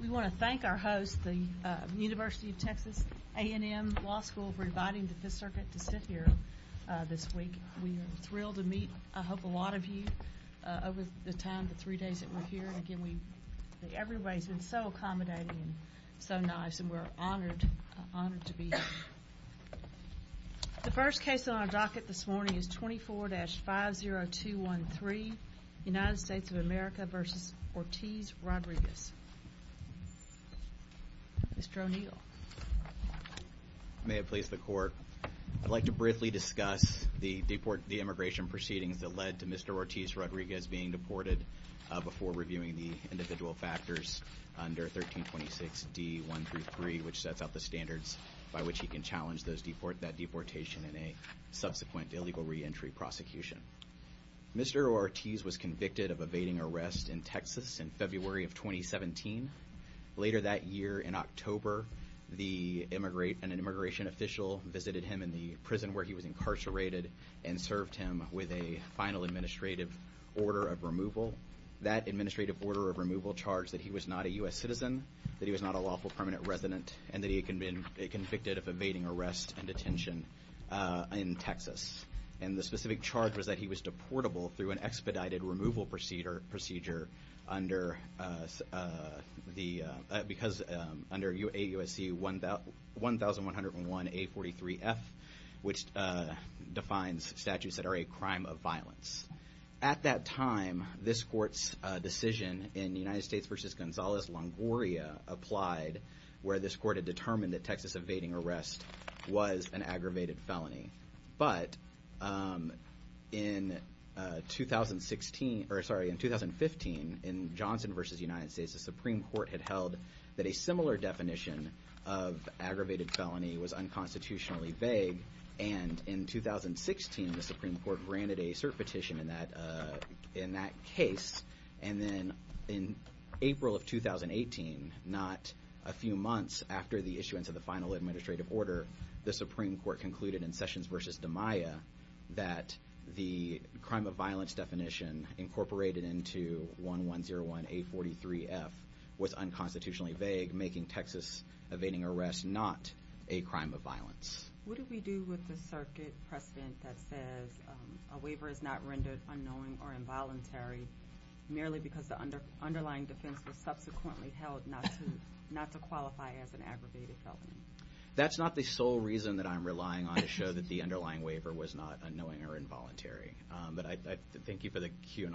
We want to thank our host, the University of Texas A&M Law School, for inviting the Fifth Circuit to sit here this week. We are thrilled to meet, I hope, a lot of you over the time, the three days that we're here. Everybody's been so accommodating and so nice and we're honored to be here. The first case on our docket this morning is 24-50213, United States of America v. Ortiz-Rodriguez. Mr. O'Neill. Mr. O'Neill May it please the Court, I'd like to briefly discuss the immigration proceedings that led to Mr. Ortiz-Rodriguez being deported before reviewing the individual factors under 1326 D. 1-3, which sets out the standards by which he can challenge that deportation in a subsequent illegal reentry prosecution. Mr. Ortiz was convicted of evading arrest in Texas in February of 2017. Later that year, in October, an immigration official visited him in the prison where he was incarcerated and served him with a final administrative order of removal. That administrative order of removal charged that he was not a U.S. citizen, that he was not a lawful permanent resident, and that he had been convicted of evading arrest and detention in Texas. And the specific charge was that he was deportable through an expedited removal procedure under the, because, under AUSC 1101A43F, which defines statutes that are a crime of violence. At that time, this Court's decision in United States v. Gonzales-Longoria applied where this Court had determined that Texas evading arrest was an aggravated felony. But in 2015, in Johnson v. United States, the Supreme Court had held that a similar definition of aggravated felony was unconstitutionally vague, and in 2016, the Supreme Court granted a cert petition in that case. And then in April of 2018, not a few months after the issuance of the final administrative order, the Supreme Court concluded in Sessions v. DiMaia that the crime of violence definition incorporated into 1101A43F was unconstitutionally vague, making Texas evading arrest not a crime of violence. What do we do with the circuit precedent that says a waiver is not rendered unknowing or involuntary merely because the underlying defense was subsequently held not to qualify as an aggravated felony? That's not the sole reason that I'm relying on to show that the underlying waiver was not unknowing or involuntary. But I thank you for the cue, and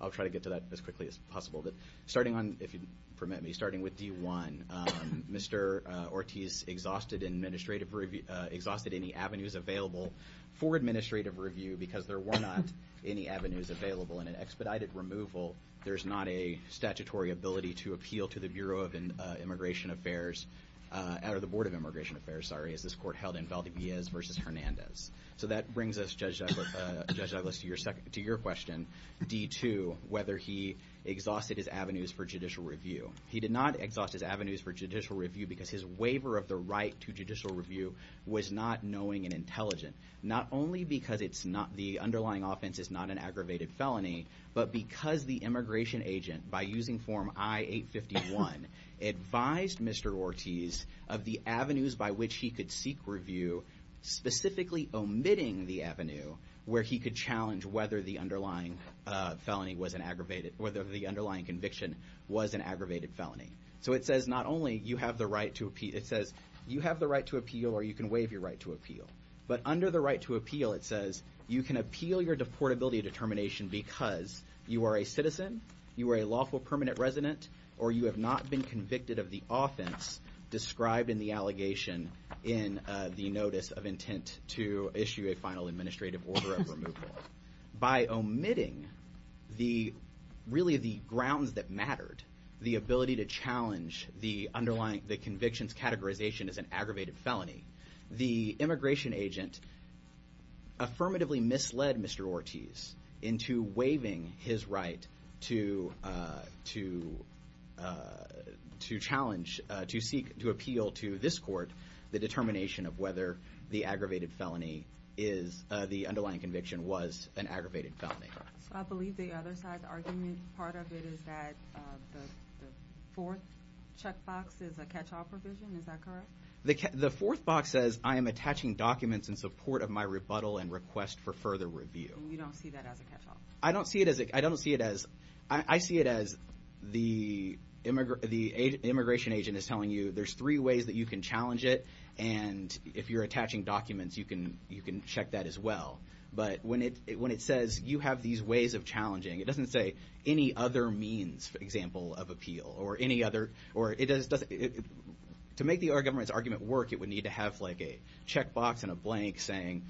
I'll try to get to that as quickly as possible. But starting on, if you permit me, starting with D-1, Mr. Ortiz exhausted administrative review, exhausted any avenues available for administrative review because there were not any avenues available. In an expedited removal, there's not a statutory ability to appeal to the Bureau of Immigration Affairs, or the Board of Immigration Affairs, sorry, as this court held in Valdiviez v. Hernandez. So that brings us, Judge Douglas, to your question, D-2, whether he exhausted his avenues for judicial review. He did not exhaust his avenues for judicial review because his waiver of the right to judicial review was not knowing and intelligent. Not only because the underlying offense is not an aggravated felony, but because the immigration agent, by using Form I-851, advised Mr. Ortiz of the avenues by which he could seek review, specifically omitting the avenue where he could challenge whether the underlying felony was an aggravated, whether the underlying conviction was an aggravated felony. So it says not only you have the right to appeal, or you can waive your right to appeal, but under the right to appeal, it says you can appeal your deportability determination because you are a citizen, you are a lawful permanent resident, or you have not been convicted of the offense described in the allegation in the notice of intent to issue a final administrative order of removal. By omitting the, really the grounds that mattered, the ability to challenge the underlying, the conviction's categorization as an aggravated felony, the immigration agent affirmatively misled Mr. Ortiz into waiving his right to challenge, to seek, to appeal to this court the determination of whether the aggravated felony is, the underlying conviction was an aggravated felony. So I believe the other side's argument, part of it is that the fourth checkbox is a catch-all provision, is that correct? The fourth box says I am attaching documents in support of my rebuttal and request for further review. And you don't see that as a catch-all? I don't see it as, I don't see it as, I see it as the immigration agent is telling you there's three ways that you can challenge it, and if you're attaching documents, you can check that as well. But when it says you have these ways of challenging, it doesn't say any other means, for example, of appeal, or any other, or it doesn't, to make the other government's argument work, it would need to have like a checkbox and a blank saying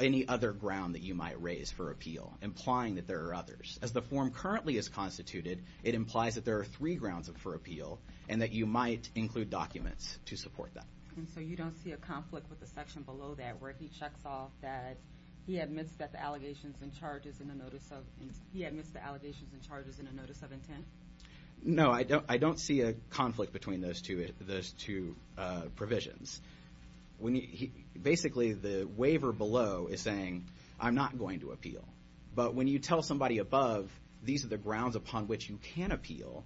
any other ground that you might raise for appeal, implying that there are others. As the form currently is constituted, it implies that there are three grounds for appeal, and that you might include documents to support that. And so you don't see a conflict with the section below that, where he checks off that, he admits that the allegations and charges in the notice of, he admits the allegations and charges in the notice of intent? No, I don't see a conflict between those two provisions. Basically, the waiver below is saying, I'm not going to appeal. But when you tell somebody above, these are the grounds upon which you can appeal,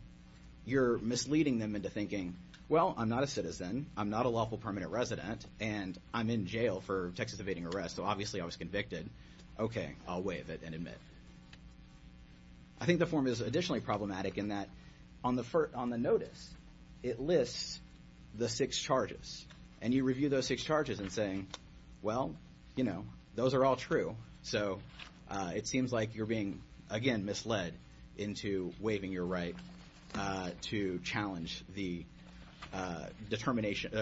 you're misleading them into thinking, well, I'm not a citizen, I'm not a lawful permanent resident, and I'm in jail for Texas evading arrest, so obviously I was convicted. Okay, I'll waive it and admit. I think the form is additionally problematic in that, on the notice, it lists the six charges. And you review those six charges and say, well, you know, those are all true. So it seems like you're being, again, misled into waiving your right to challenge the designation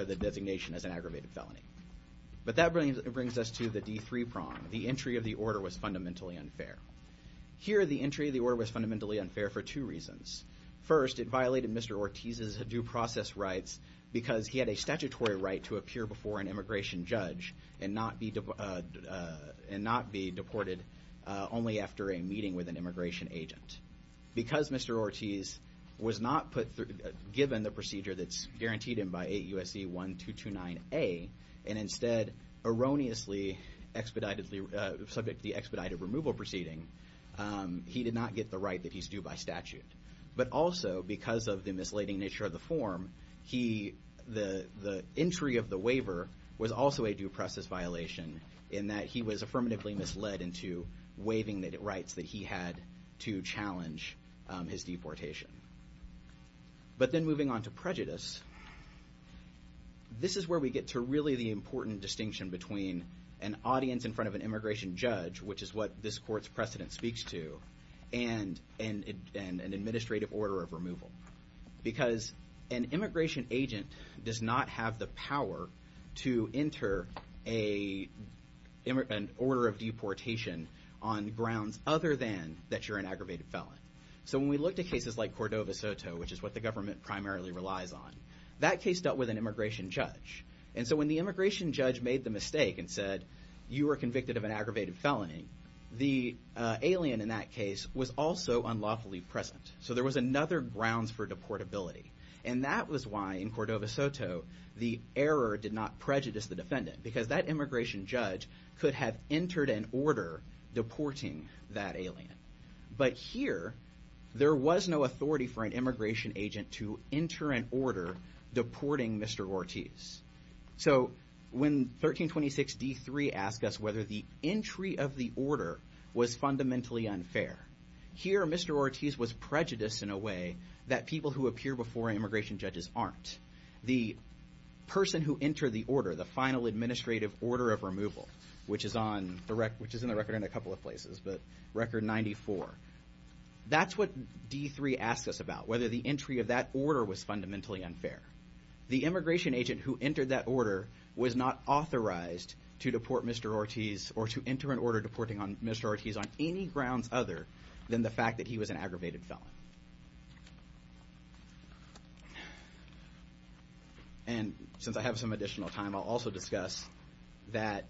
as an aggravated felony. But that brings us to the D3 prong, the entry of the order was fundamentally unfair. Here, the entry of the order was fundamentally unfair for two reasons. First, it violated Mr. Ortiz's due process rights because he had a statutory right to appear before an immigration judge and not be deported only after a meeting with an immigration agent. Because Mr. Ortiz was not given the procedure that's guaranteed him by 8 U.S.C. 1229A, and instead erroneously, subject to the expedited removal proceeding, he did not get the right that he's due by statute. But also, because of the misleading nature of the form, the entry of the waiver was also a due process violation in that he was affirmatively misled into waiving the rights that he had to challenge his deportation. But then moving on to prejudice, this is where we get to really the important distinction between an audience in front of an immigration judge, which is what this court's precedent speaks to, and an administrative order of removal. Because an immigration agent does not have the power to enter an order of deportation on grounds other than that you're an aggravated felon. So when we look to cases like Cordova-Soto, which is what the government primarily relies on, that case dealt with an immigration judge. And so when the immigration judge made the mistake and said, you are convicted of an aggravated felony, the alien in that case was also unlawfully present. So there was another grounds for deportability. And that was why, in Cordova-Soto, the error did not prejudice the defendant. Because that immigration judge could have entered an order deporting that alien. But here, there was no authority for an immigration agent to enter an order deporting Mr. Ortiz. So when 1326 D-3 asked us whether the entry of the order was fundamentally unfair, here Mr. Ortiz was prejudiced in a way that people who appear before immigration judges aren't. The person who entered the order, the final administrative order of removal, which is in the record in a couple of places, but record 94, that's what D-3 asked us about, whether the entry of that order was fundamentally unfair. The immigration agent who entered that order was not authorized to deport Mr. Ortiz or to enter an order deporting Mr. Ortiz on any grounds other than the fact that he was an aggravated felon. And since I have some additional time, I'll also discuss that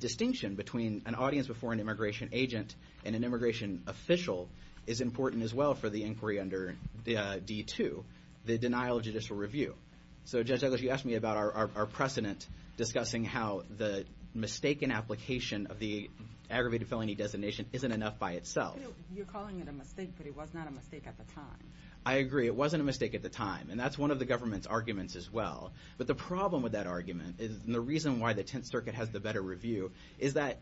distinction between an audience before an immigration agent and an immigration official is important as well for the inquiry under D-2. The denial of judicial review. So Judge Douglas, you asked me about our precedent discussing how the mistaken application of the aggravated felony designation isn't enough by itself. You're calling it a mistake, but it was not a mistake at the time. I agree, it wasn't a mistake at the time, and that's one of the government's arguments as well. But the problem with that argument, and the reason why the Tenth Circuit has the better review, is that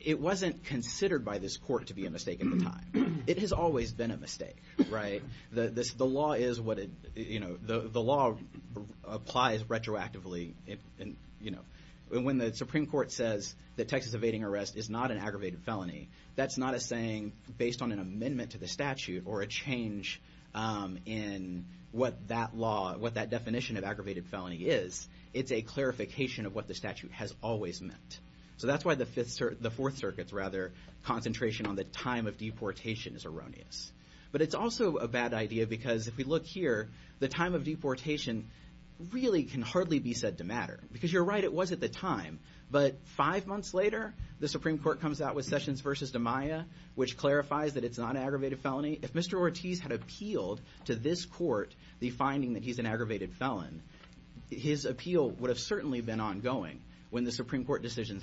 it wasn't considered by this court to be a mistake at the time. It has always been a mistake, right? The law applies retroactively, and when the Supreme Court says that Texas evading arrest is not an aggravated felony, that's not a saying based on an amendment to the statute or a change in what that definition of aggravated felony is. It's a clarification of what the statute has always meant. So that's why the Fourth Circuit's concentration on the time of deportation is erroneous. But it's also a bad idea because if we look here, the time of deportation really can hardly be said to matter. Because you're right, it was at the time. But five months later, the Supreme Court comes out with Sessions v. DiMaia, which clarifies that it's not an aggravated felony. If Mr. Ortiz had appealed to this court the finding that he's an aggravated felon, his appeal would have certainly been ongoing when the Supreme Court decision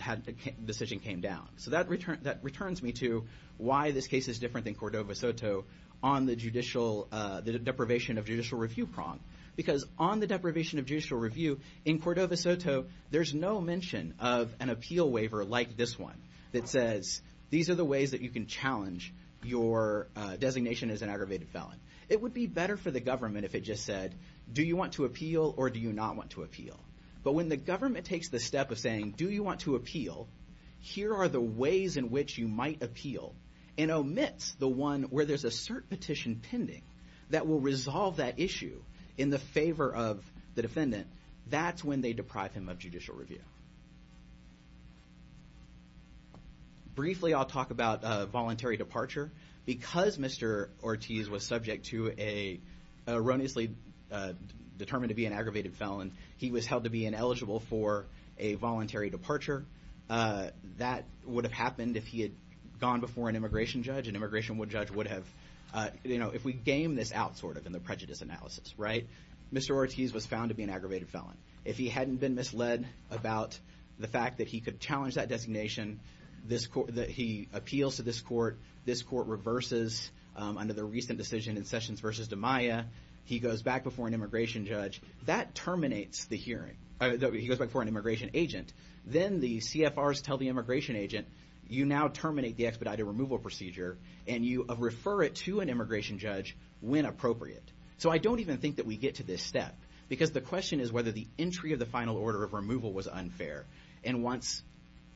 came down. So that returns me to why this case is different than Cordova-Soto on the deprivation of judicial review prong. Because on the deprivation of judicial review in Cordova-Soto, there's no mention of an appeal waiver like this one that says these are the ways that you can challenge your designation as an aggravated felon. It would be better for the government if it just said do you want to appeal or do you not want to appeal? But when the government takes the step of saying do you want to appeal, here are the ways in which you might appeal, and omits the one where there's a cert petition pending that will resolve that issue in the favor of the defendant, that's when they deprive him of judicial review. Briefly, I'll talk about voluntary departure. Because Mr. Ortiz was subject to a erroneously determined to be an aggravated felon, he was held to be ineligible for a voluntary departure. That would have happened if he had gone before an immigration judge, an immigration judge would have, you know, if we game this out sort of in the prejudice analysis, right? Mr. Ortiz was found to be an aggravated felon. If he hadn't been misled about the fact that he could challenge that designation, that he appeals to this court, this court reverses under the recent decision in Sessions v. DiMaia, he goes back before an immigration judge, that terminates the hearing. He goes back before an immigration agent. Then the CFRs tell the immigration agent, you now terminate the expedited removal procedure, and you refer it to an immigration judge when appropriate. So I don't even think that we get to this step. Because the question is whether the entry of the final order of removal was unfair. And once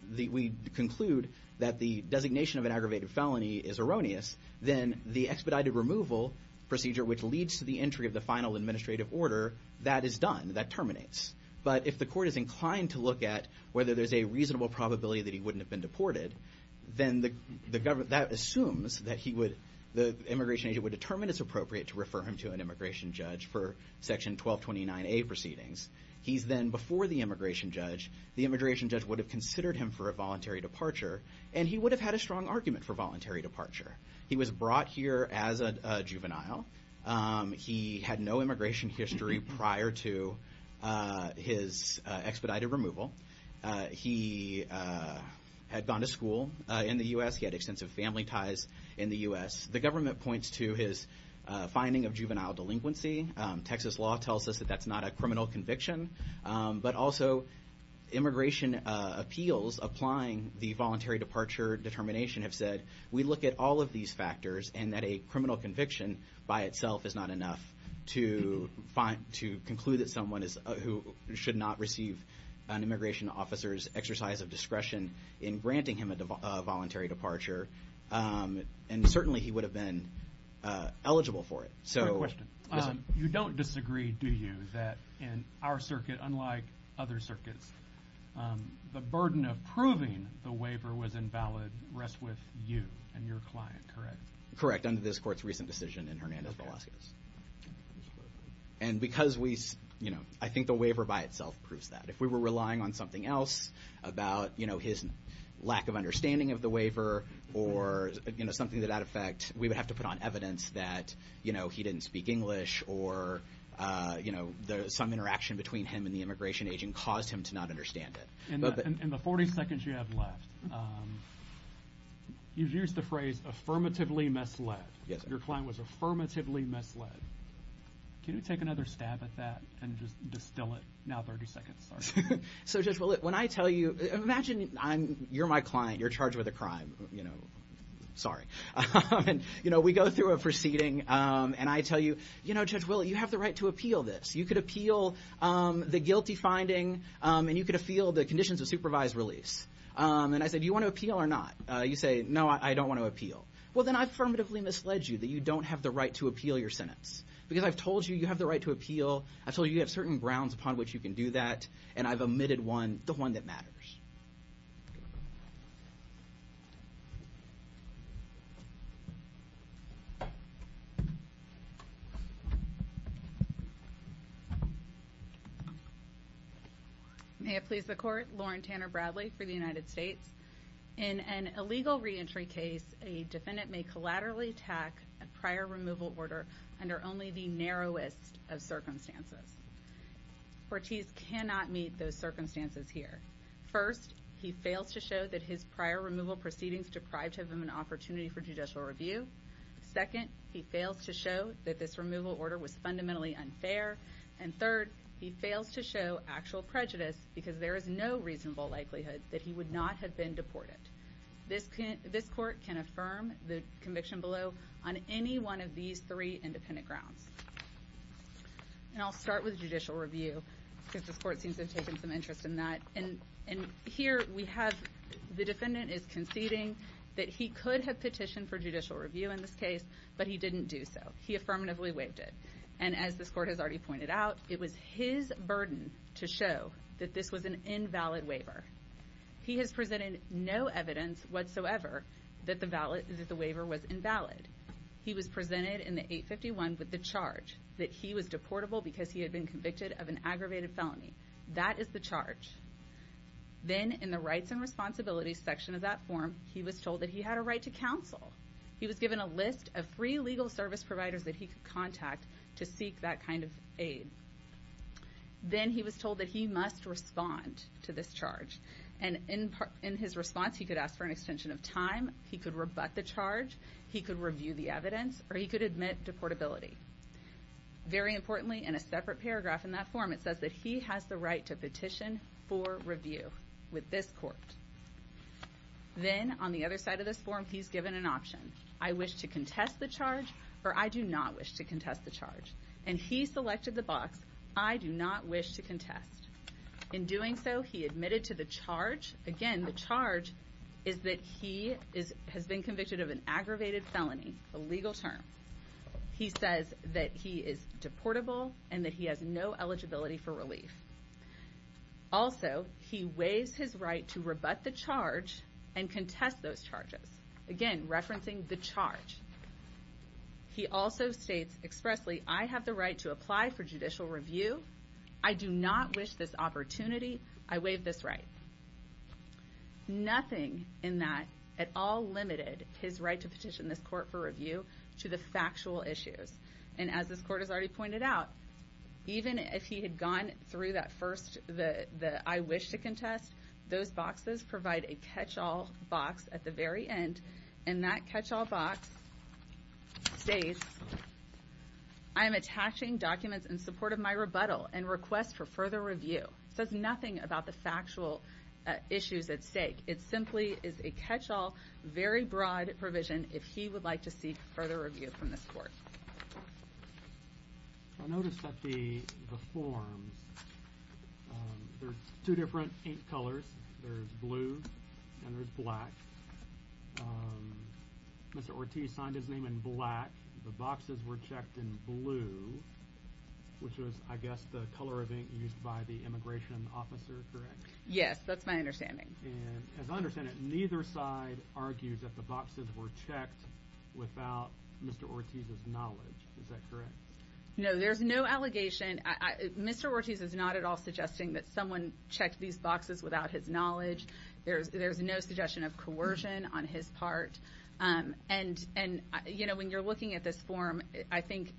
we conclude that the designation of an aggravated felony is erroneous, then the expedited removal procedure, which leads to the entry of the final administrative order, that is done, that terminates. But if the court is inclined to look at whether there's a reasonable probability that he wouldn't have been deported, then that assumes that the immigration agent would determine it's appropriate to refer him to an immigration judge for Section 1229A proceedings. He's then before the immigration judge. The immigration judge would have considered him for a voluntary departure, and he would have had a strong argument for voluntary departure. He was brought here as a juvenile. He had no immigration history prior to his expedited removal. He had gone to school in the U.S. He had extensive family ties in the U.S. The government points to his finding of juvenile delinquency. Texas law tells us that that's not a criminal conviction. But also, immigration appeals, applying the voluntary departure determination, have said, we look at all of these factors, and that a criminal conviction by itself is not enough to conclude that someone who should not receive an immigration officer's exercise of discretion in granting him a voluntary departure. And certainly, he would have been eligible for it. You don't disagree, do you, that in our circuit, unlike other circuits, the burden of proving the waiver was invalid rests with you and your client, correct? Correct, under this court's recent decision in Hernandez-Velasquez. And because we, you know, I think the waiver by itself proves that. If we were relying on something else, about, you know, his lack of understanding of the waiver, or, you know, something to that effect, we would have to put on evidence that, you know, he didn't speak English, or, you know, some interaction between him and the immigration agent caused him to not understand it. In the 40 seconds you have left, you've used the phrase, affirmatively misled. Yes, sir. Your client was affirmatively misled. Can you take another stab at that and just distill it? Now 30 seconds, sorry. So, Judge, when I tell you, imagine you're my client, you're charged with a crime, you know, sorry. And, you know, we go through a proceeding and I tell you, you know, Judge, well, you have the right to appeal this. You could appeal the guilty finding and you could appeal the conditions of supervised release. And I say, do you want to appeal or not? You say, no, I don't want to appeal. Well, then I affirmatively misled you that you don't have the right to appeal your sentence because I've told you you have the right to appeal, I've told you you have certain grounds upon which you can do that, and I've omitted one, the one that matters. May it please the Court, Lauren Tanner Bradley for the United States. In an illegal reentry case, a defendant may collaterally attack a prior removal order under only the narrowest of circumstances. Cortese cannot meet those circumstances here. First, he fails to show that his prior removal proceedings deprived him of an opportunity for judicial review. Second, he fails to show that this removal order was fundamentally unfair. And third, he fails to show actual prejudice because there is no reasonable likelihood that he would not have been deported. This Court can affirm the conviction below on any one of these three independent grounds. And I'll start with judicial review because this Court seems to have taken some interest in that. And here we have the defendant is conceding that he could have petitioned for judicial review in this case, but he didn't do so. He affirmatively waived it. And as this Court has already pointed out, it was his burden to show that this was an invalid waiver. He has presented no evidence whatsoever that the waiver was invalid. He was presented in the 851 with the charge that he was deportable because he had been convicted of an aggravated felony. That is the charge. Then in the Rights and Responsibilities section of that form, he was told that he had a right to counsel. He was given a list of free legal service providers that he could contact to seek that kind of aid. Then he was told that he must respond to this charge. And in his response, he could ask for an extension of time, he could rebut the charge, he could review the evidence, or he could admit deportability. Very importantly, in a separate paragraph in that form, it says that he has the right to petition for review with this Court. Then on the other side of this form, he's given an option. I wish to contest the charge, or I do not wish to contest the charge. And he selected the box, I do not wish to contest. In doing so, he admitted to the charge. Again, the charge is that he has been convicted of an aggravated felony, a legal term. He says that he is deportable and that he has no eligibility for relief. Also, he waives his right to rebut the charge and contest those charges. Again, referencing the charge. He also states expressly, I have the right to apply for judicial review. I do not wish this opportunity. I waive this right. Nothing in that at all limited his right to petition this Court for review to the factual issues. And as this Court has already pointed out, even if he had gone through that first I wish to contest, those boxes provide a catch-all box at the very end. And that catch-all box states, I am attaching documents in support of my rebuttal and request for further review. It says nothing about the factual issues at stake. It simply is a catch-all, very broad provision if he would like to seek further review from this Court. I noticed that the forms, there's two different ink colors. There's blue and there's black. Mr. Ortiz signed his name in black. The boxes were checked in blue, which was, I guess, the color of ink used by the immigration officer, correct? Yes, that's my understanding. And as I understand it, neither side argues that the boxes were checked without Mr. Ortiz's knowledge. Is that correct? No, there's no allegation. Mr. Ortiz is not at all suggesting that someone checked these boxes without his knowledge. There's no suggestion of coercion on his part. And, you know, when you're looking at this form, I think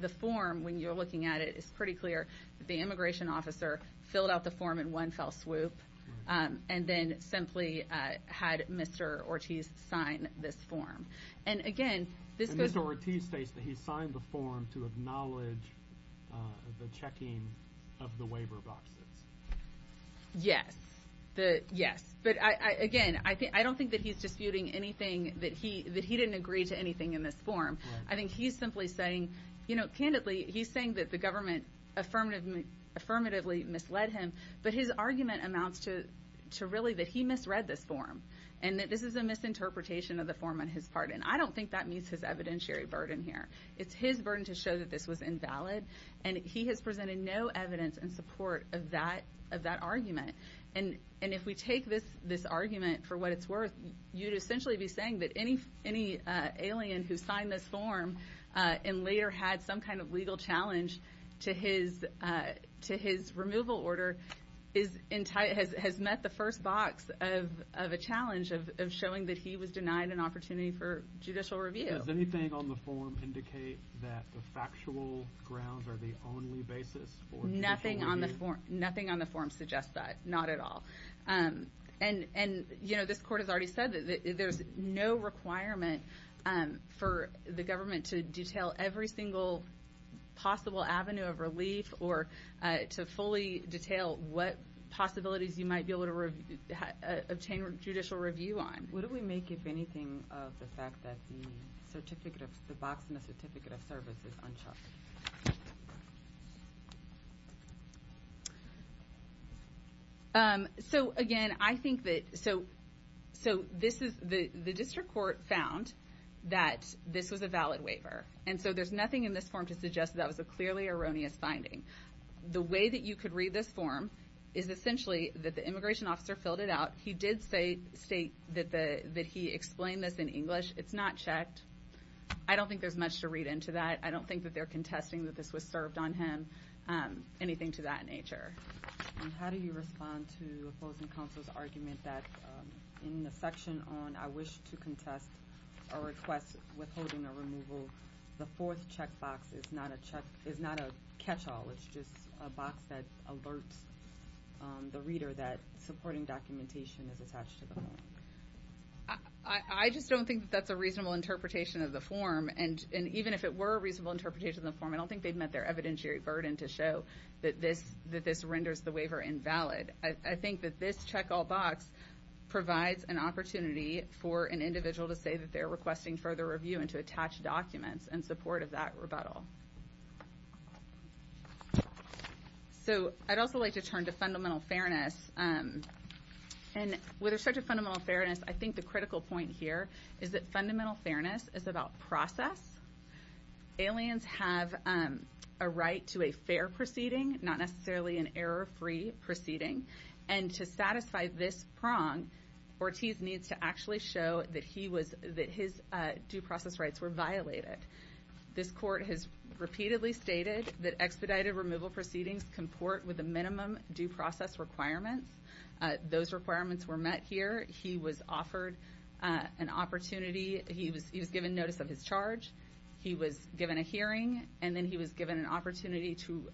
the form, when you're looking at it, it's pretty clear that the immigration officer filled out the form in one fell swoop. And then simply had Mr. Ortiz sign this form. And, again, this goes— And Mr. Ortiz states that he signed the form to acknowledge the checking of the waiver boxes. Yes. Yes. But, again, I don't think that he's disputing anything, that he didn't agree to anything in this form. I think he's simply saying, you know, candidly, he's saying that the government affirmatively misled him, but his argument amounts to really that he misread this form and that this is a misinterpretation of the form on his part. And I don't think that meets his evidentiary burden here. It's his burden to show that this was invalid, and he has presented no evidence in support of that argument. And if we take this argument for what it's worth, you'd essentially be saying that any alien who signed this form and later had some kind of legal challenge to his removal order has met the first box of a challenge of showing that he was denied an opportunity for judicial review. Does anything on the form indicate that the factual grounds are the only basis for judicial review? Nothing on the form suggests that, not at all. And, you know, this court has already said that there's no requirement for the government to detail every single possible avenue of relief or to fully detail what possibilities you might be able to obtain judicial review on. What do we make, if anything, of the fact that the box in the certificate of service is uncharted? So, again, I think that, so this is, the district court found that this was a valid waiver. And so there's nothing in this form to suggest that that was a clearly erroneous finding. The way that you could read this form is essentially that the immigration officer filled it out. He did state that he explained this in English. It's not checked. I don't think there's much to read into that. I don't think that they're contesting that this was served on him, anything to that nature. And how do you respond to opposing counsel's argument that in the section on I wish to contest a request withholding a removal, the fourth checkbox is not a catchall. It's just a box that alerts the reader that supporting documentation is attached to the form. I just don't think that that's a reasonable interpretation of the form. And even if it were a reasonable interpretation of the form, I don't think they've met their evidentiary burden to show that this renders the waiver invalid. I think that this checkall box provides an opportunity for an individual to say that they're requesting further review and to attach documents in support of that rebuttal. So I'd also like to turn to fundamental fairness. And with respect to fundamental fairness, I think the critical point here is that fundamental fairness is about process. Aliens have a right to a fair proceeding, not necessarily an error-free proceeding. And to satisfy this prong, Ortiz needs to actually show that his due process rights were violated. This court has repeatedly stated that expedited removal proceedings comport with a minimum due process requirement. Those requirements were met here. He was offered an opportunity. He was given notice of his charge. He was given a hearing. And then he was given an opportunity to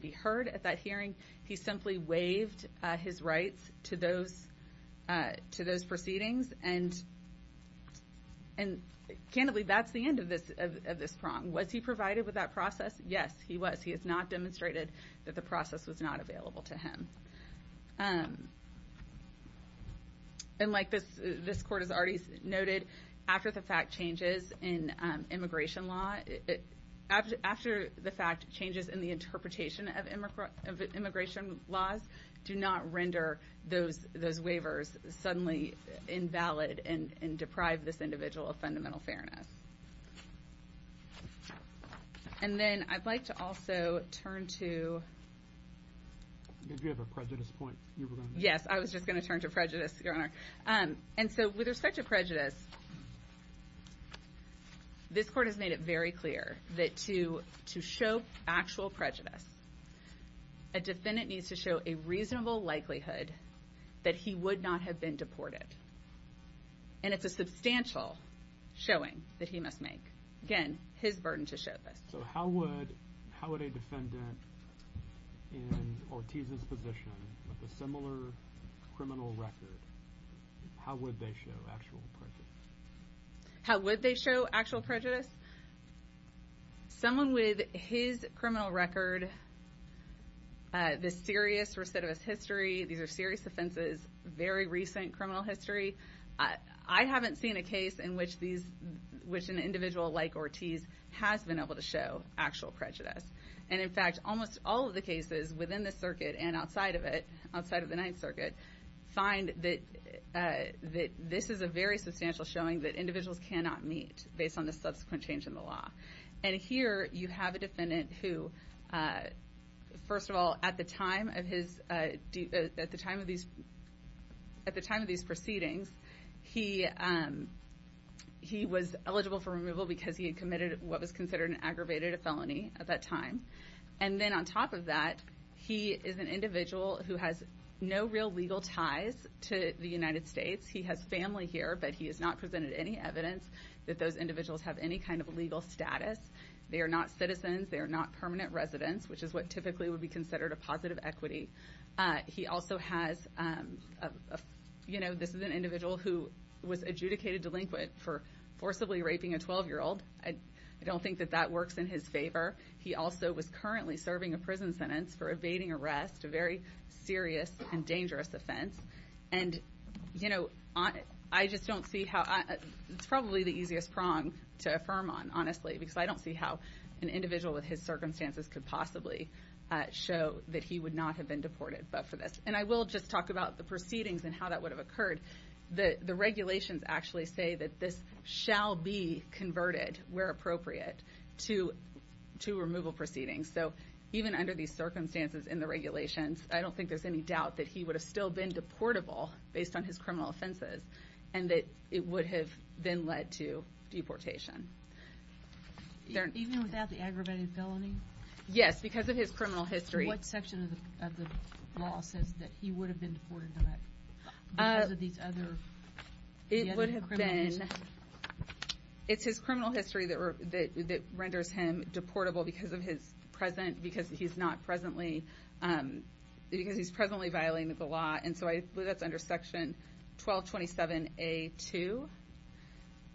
be heard at that hearing. He simply waived his rights to those proceedings. And, candidly, that's the end of this prong. Was he provided with that process? Yes, he was. He has not demonstrated that the process was not available to him. And like this court has already noted, after the fact changes in immigration law, after the fact changes in the interpretation of immigration laws do not render those waivers suddenly invalid and deprive this individual of fundamental fairness. And then I'd like to also turn to... Did you have a prejudice point you were going to make? Yes, I was just going to turn to prejudice, Your Honor. And so with respect to prejudice, this court has made it very clear that to show actual prejudice, a defendant needs to show a reasonable likelihood that he would not have been deported. And it's a substantial showing that he must make. Again, his burden to show this. So how would a defendant in Ortiz's position with a similar criminal record, how would they show actual prejudice? How would they show actual prejudice? Someone with his criminal record, this serious recidivist history, these are serious offenses, very recent criminal history. I haven't seen a case in which an individual like Ortiz has been able to show actual prejudice. And, in fact, almost all of the cases within the circuit and outside of it, outside of the Ninth Circuit, find that this is a very substantial showing that individuals cannot meet based on the subsequent change in the law. And here you have a defendant who, first of all, at the time of these proceedings, he was eligible for removal because he had committed what was considered an aggravated felony at that time. And then on top of that, he is an individual who has no real legal ties to the United States. He has family here, but he has not presented any evidence that those individuals have any kind of legal status. They are not citizens. They are not permanent residents, which is what typically would be considered a positive equity. He also has, you know, this is an individual who was adjudicated delinquent for forcibly raping a 12-year-old. I don't think that that works in his favor. He also was currently serving a prison sentence for evading arrest, a very serious and dangerous offense. And, you know, I just don't see how – it's probably the easiest prong to affirm on, honestly, because I don't see how an individual with his circumstances could possibly show that he would not have been deported but for this. And I will just talk about the proceedings and how that would have occurred. The regulations actually say that this shall be converted, where appropriate, to removal proceedings. So even under these circumstances in the regulations, I don't think there's any doubt that he would have still been deportable based on his criminal offenses and that it would have then led to deportation. Even without the aggravated felony? Yes, because of his criminal history. What section of the law says that he would have been deported because of these other – the other incriminations? It's his criminal history that renders him deportable because of his present – because he's not presently – because he's presently violating the law. And so I believe that's under Section 1227A2.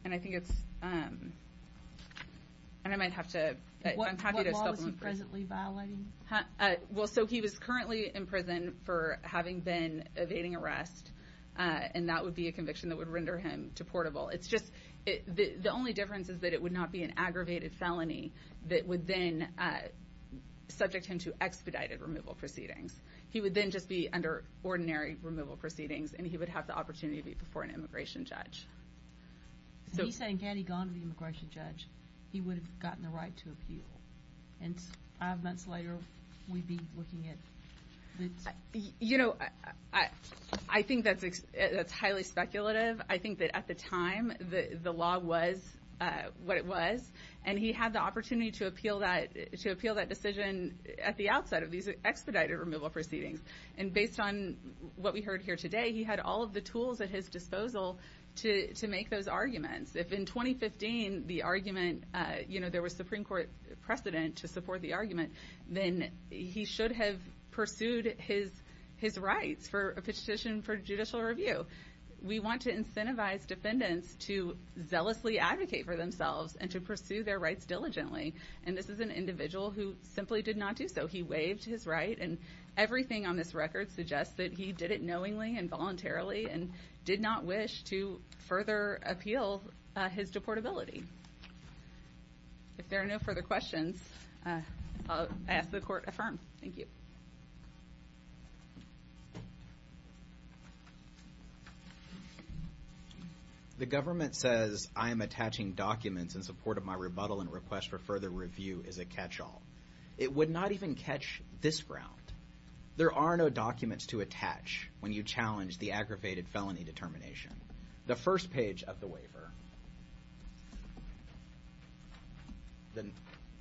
And I think it's – and I might have to – I'm happy to – What law was he presently violating? Well, so he was currently in prison for having been evading arrest, and that would be a conviction that would render him deportable. It's just – the only difference is that it would not be an aggravated felony that would then subject him to expedited removal proceedings. He would then just be under ordinary removal proceedings, and he would have the opportunity to be before an immigration judge. So he's saying had he gone to the immigration judge, he would have gotten the right to appeal. And five months later, we'd be looking at the – You know, I think that's highly speculative. I think that at the time the law was what it was, and he had the opportunity to appeal that – to appeal that decision at the outset of these expedited removal proceedings. And based on what we heard here today, he had all of the tools at his disposal to make those arguments. If in 2015 the argument – you know, there was Supreme Court precedent to support the argument, then he should have pursued his rights for a petition for judicial review. We want to incentivize defendants to zealously advocate for themselves and to pursue their rights diligently, and this is an individual who simply did not do so. He waived his right, and everything on this record suggests that he did it knowingly and voluntarily and did not wish to further appeal his deportability. If there are no further questions, I'll ask the Court to affirm. Thank you. The government says I am attaching documents in support of my rebuttal and request for further review as a catch-all. It would not even catch this ground. There are no documents to attach when you challenge the aggravated felony determination. The first page of the waiver,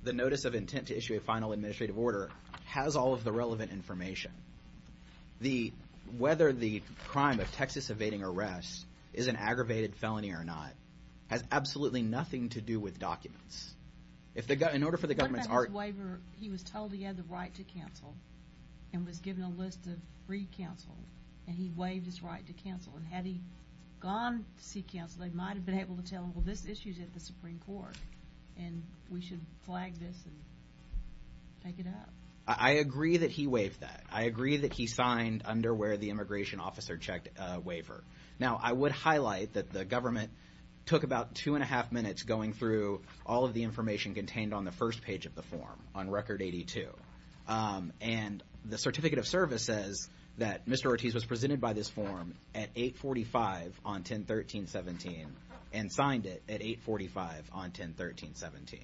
the Notice of Intent to Issue a Final Administrative Order, has all of the relevant information. Whether the crime of Texas evading arrest is an aggravated felony or not has absolutely nothing to do with documents. If the – in order for the government's – What about his waiver? He was told he had the right to cancel and was given a list of free counsel, and he waived his right to cancel. And had he gone to seek counsel, they might have been able to tell him, well, this issue's at the Supreme Court, and we should flag this and make it up. I agree that he waived that. I agree that he signed under where the immigration officer checked a waiver. Now, I would highlight that the government took about two and a half minutes going through all of the information contained on the first page of the form on Record 82. And the Certificate of Service says that Mr. Ortiz was presented by this form at 845 on 10-13-17 and signed it at 845 on 10-13-17.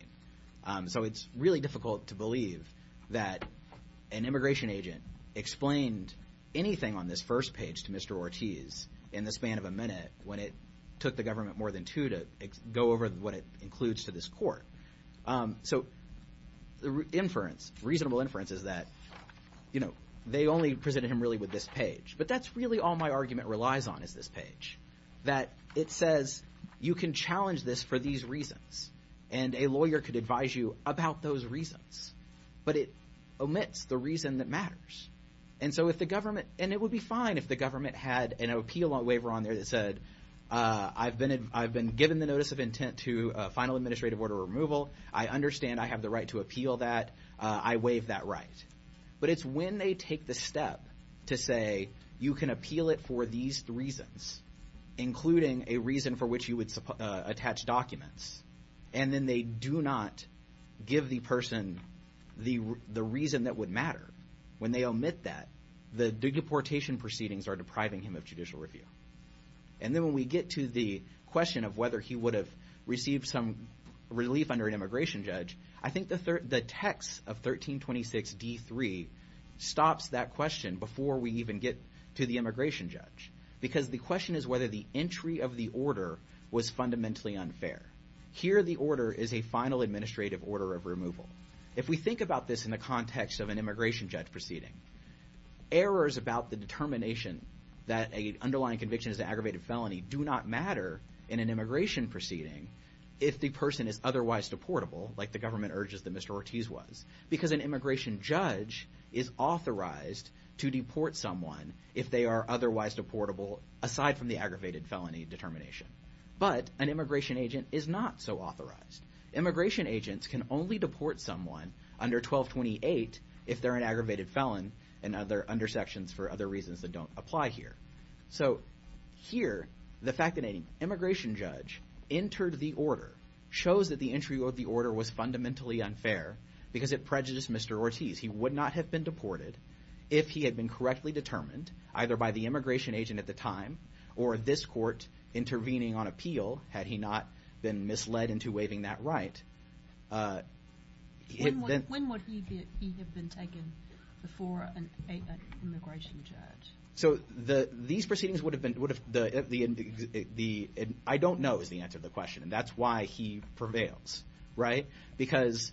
So it's really difficult to believe that an immigration agent explained anything on this first page to Mr. Ortiz in the span of a minute when it took the government more than two to go over what it includes to this court. So the inference, reasonable inference, is that they only presented him really with this page. But that's really all my argument relies on is this page, that it says you can challenge this for these reasons, and a lawyer could advise you about those reasons. But it omits the reason that matters. And it would be fine if the government had an appeal waiver on there that said, I've been given the notice of intent to final administrative order removal. I understand I have the right to appeal that. I waive that right. But it's when they take the step to say you can appeal it for these reasons, including a reason for which you would attach documents, and then they do not give the person the reason that would matter. When they omit that, the deportation proceedings are depriving him of judicial review. And then when we get to the question of whether he would have received some relief under an immigration judge, I think the text of 1326d3 stops that question before we even get to the immigration judge, because the question is whether the entry of the order was fundamentally unfair. Here the order is a final administrative order of removal. If we think about this in the context of an immigration judge proceeding, errors about the determination that an underlying conviction is an aggravated felony do not matter in an immigration proceeding if the person is otherwise deportable, like the government urges that Mr. Ortiz was, because an immigration judge is authorized to deport someone if they are otherwise deportable, aside from the aggravated felony determination. But an immigration agent is not so authorized. Immigration agents can only deport someone under 1228 if they're an aggravated felon and other under sections for other reasons that don't apply here. So here the fact that an immigration judge entered the order shows that the entry of the order was fundamentally unfair because it prejudiced Mr. Ortiz. He would not have been deported if he had been correctly determined, either by the immigration agent at the time or this court intervening on appeal, had he not been misled into waiving that right. When would he have been taken before an immigration judge? So these proceedings would have been—I don't know is the answer to the question, and that's why he prevails, right? Because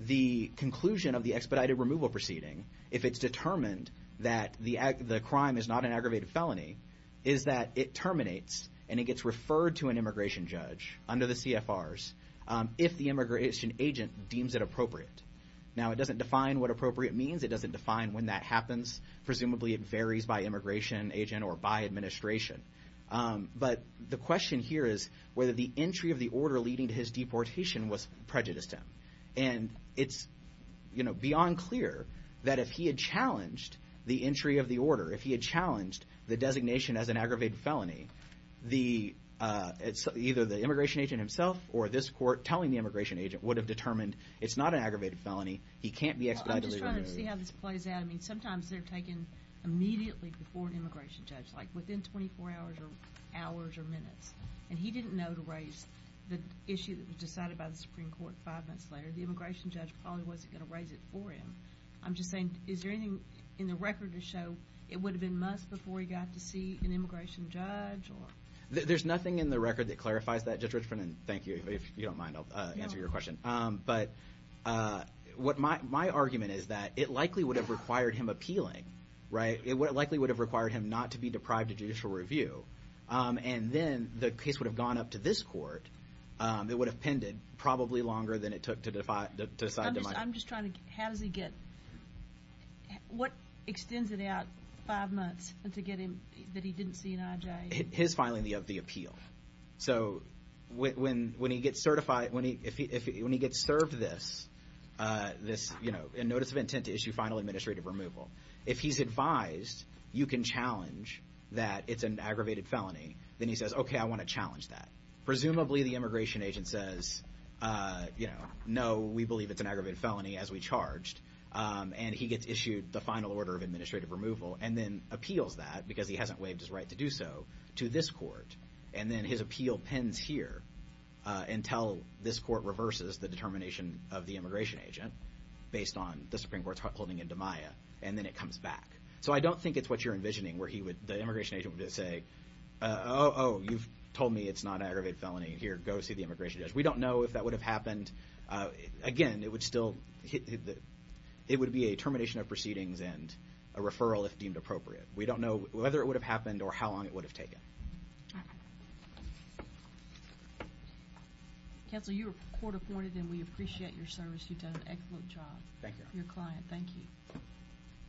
the conclusion of the expedited removal proceeding, if it's determined that the crime is not an aggravated felony, is that it terminates and it gets referred to an immigration judge under the CFRs if the immigration agent deems it appropriate. Now it doesn't define what appropriate means. It doesn't define when that happens. Presumably it varies by immigration agent or by administration. But the question here is whether the entry of the order leading to his deportation was prejudiced to him. And it's beyond clear that if he had challenged the entry of the order, if he had challenged the designation as an aggravated felony, either the immigration agent himself or this court telling the immigration agent would have determined it's not an aggravated felony, he can't be expedited. I'm just trying to see how this plays out. I mean sometimes they're taken immediately before an immigration judge, like within 24 hours or hours or minutes. And he didn't know to raise the issue that was decided by the Supreme Court five months later. The immigration judge probably wasn't going to raise it for him. I'm just saying, is there anything in the record to show it would have been months before he got to see an immigration judge? There's nothing in the record that clarifies that. Judge Richmond, thank you. If you don't mind, I'll answer your question. But my argument is that it likely would have required him appealing, right? It likely would have required him not to be deprived of judicial review. And then the case would have gone up to this court. It would have pended probably longer than it took to decide. I'm just trying to get, how does he get, what extends it out five months to get him that he didn't see an IJA? His filing of the appeal. So when he gets served this notice of intent to issue final administrative removal, if he's advised you can challenge that it's an aggravated felony, then he says, okay, I want to challenge that. Presumably the immigration agent says, you know, no, we believe it's an aggravated felony as we charged. And he gets issued the final order of administrative removal and then appeals that, because he hasn't waived his right to do so, to this court. And then his appeal pens here until this court reverses the determination of the immigration agent, based on the Supreme Court's holding in DiMaia, and then it comes back. So I don't think it's what you're envisioning, where the immigration agent would just say, oh, you've told me it's not an aggravated felony. Here, go see the immigration judge. We don't know if that would have happened. Again, it would be a termination of proceedings and a referral if deemed appropriate. We don't know whether it would have happened or how long it would have taken. All right. Counsel, you are court-appointed, and we appreciate your service. You've done an excellent job. Thank you. Your client. Thank you.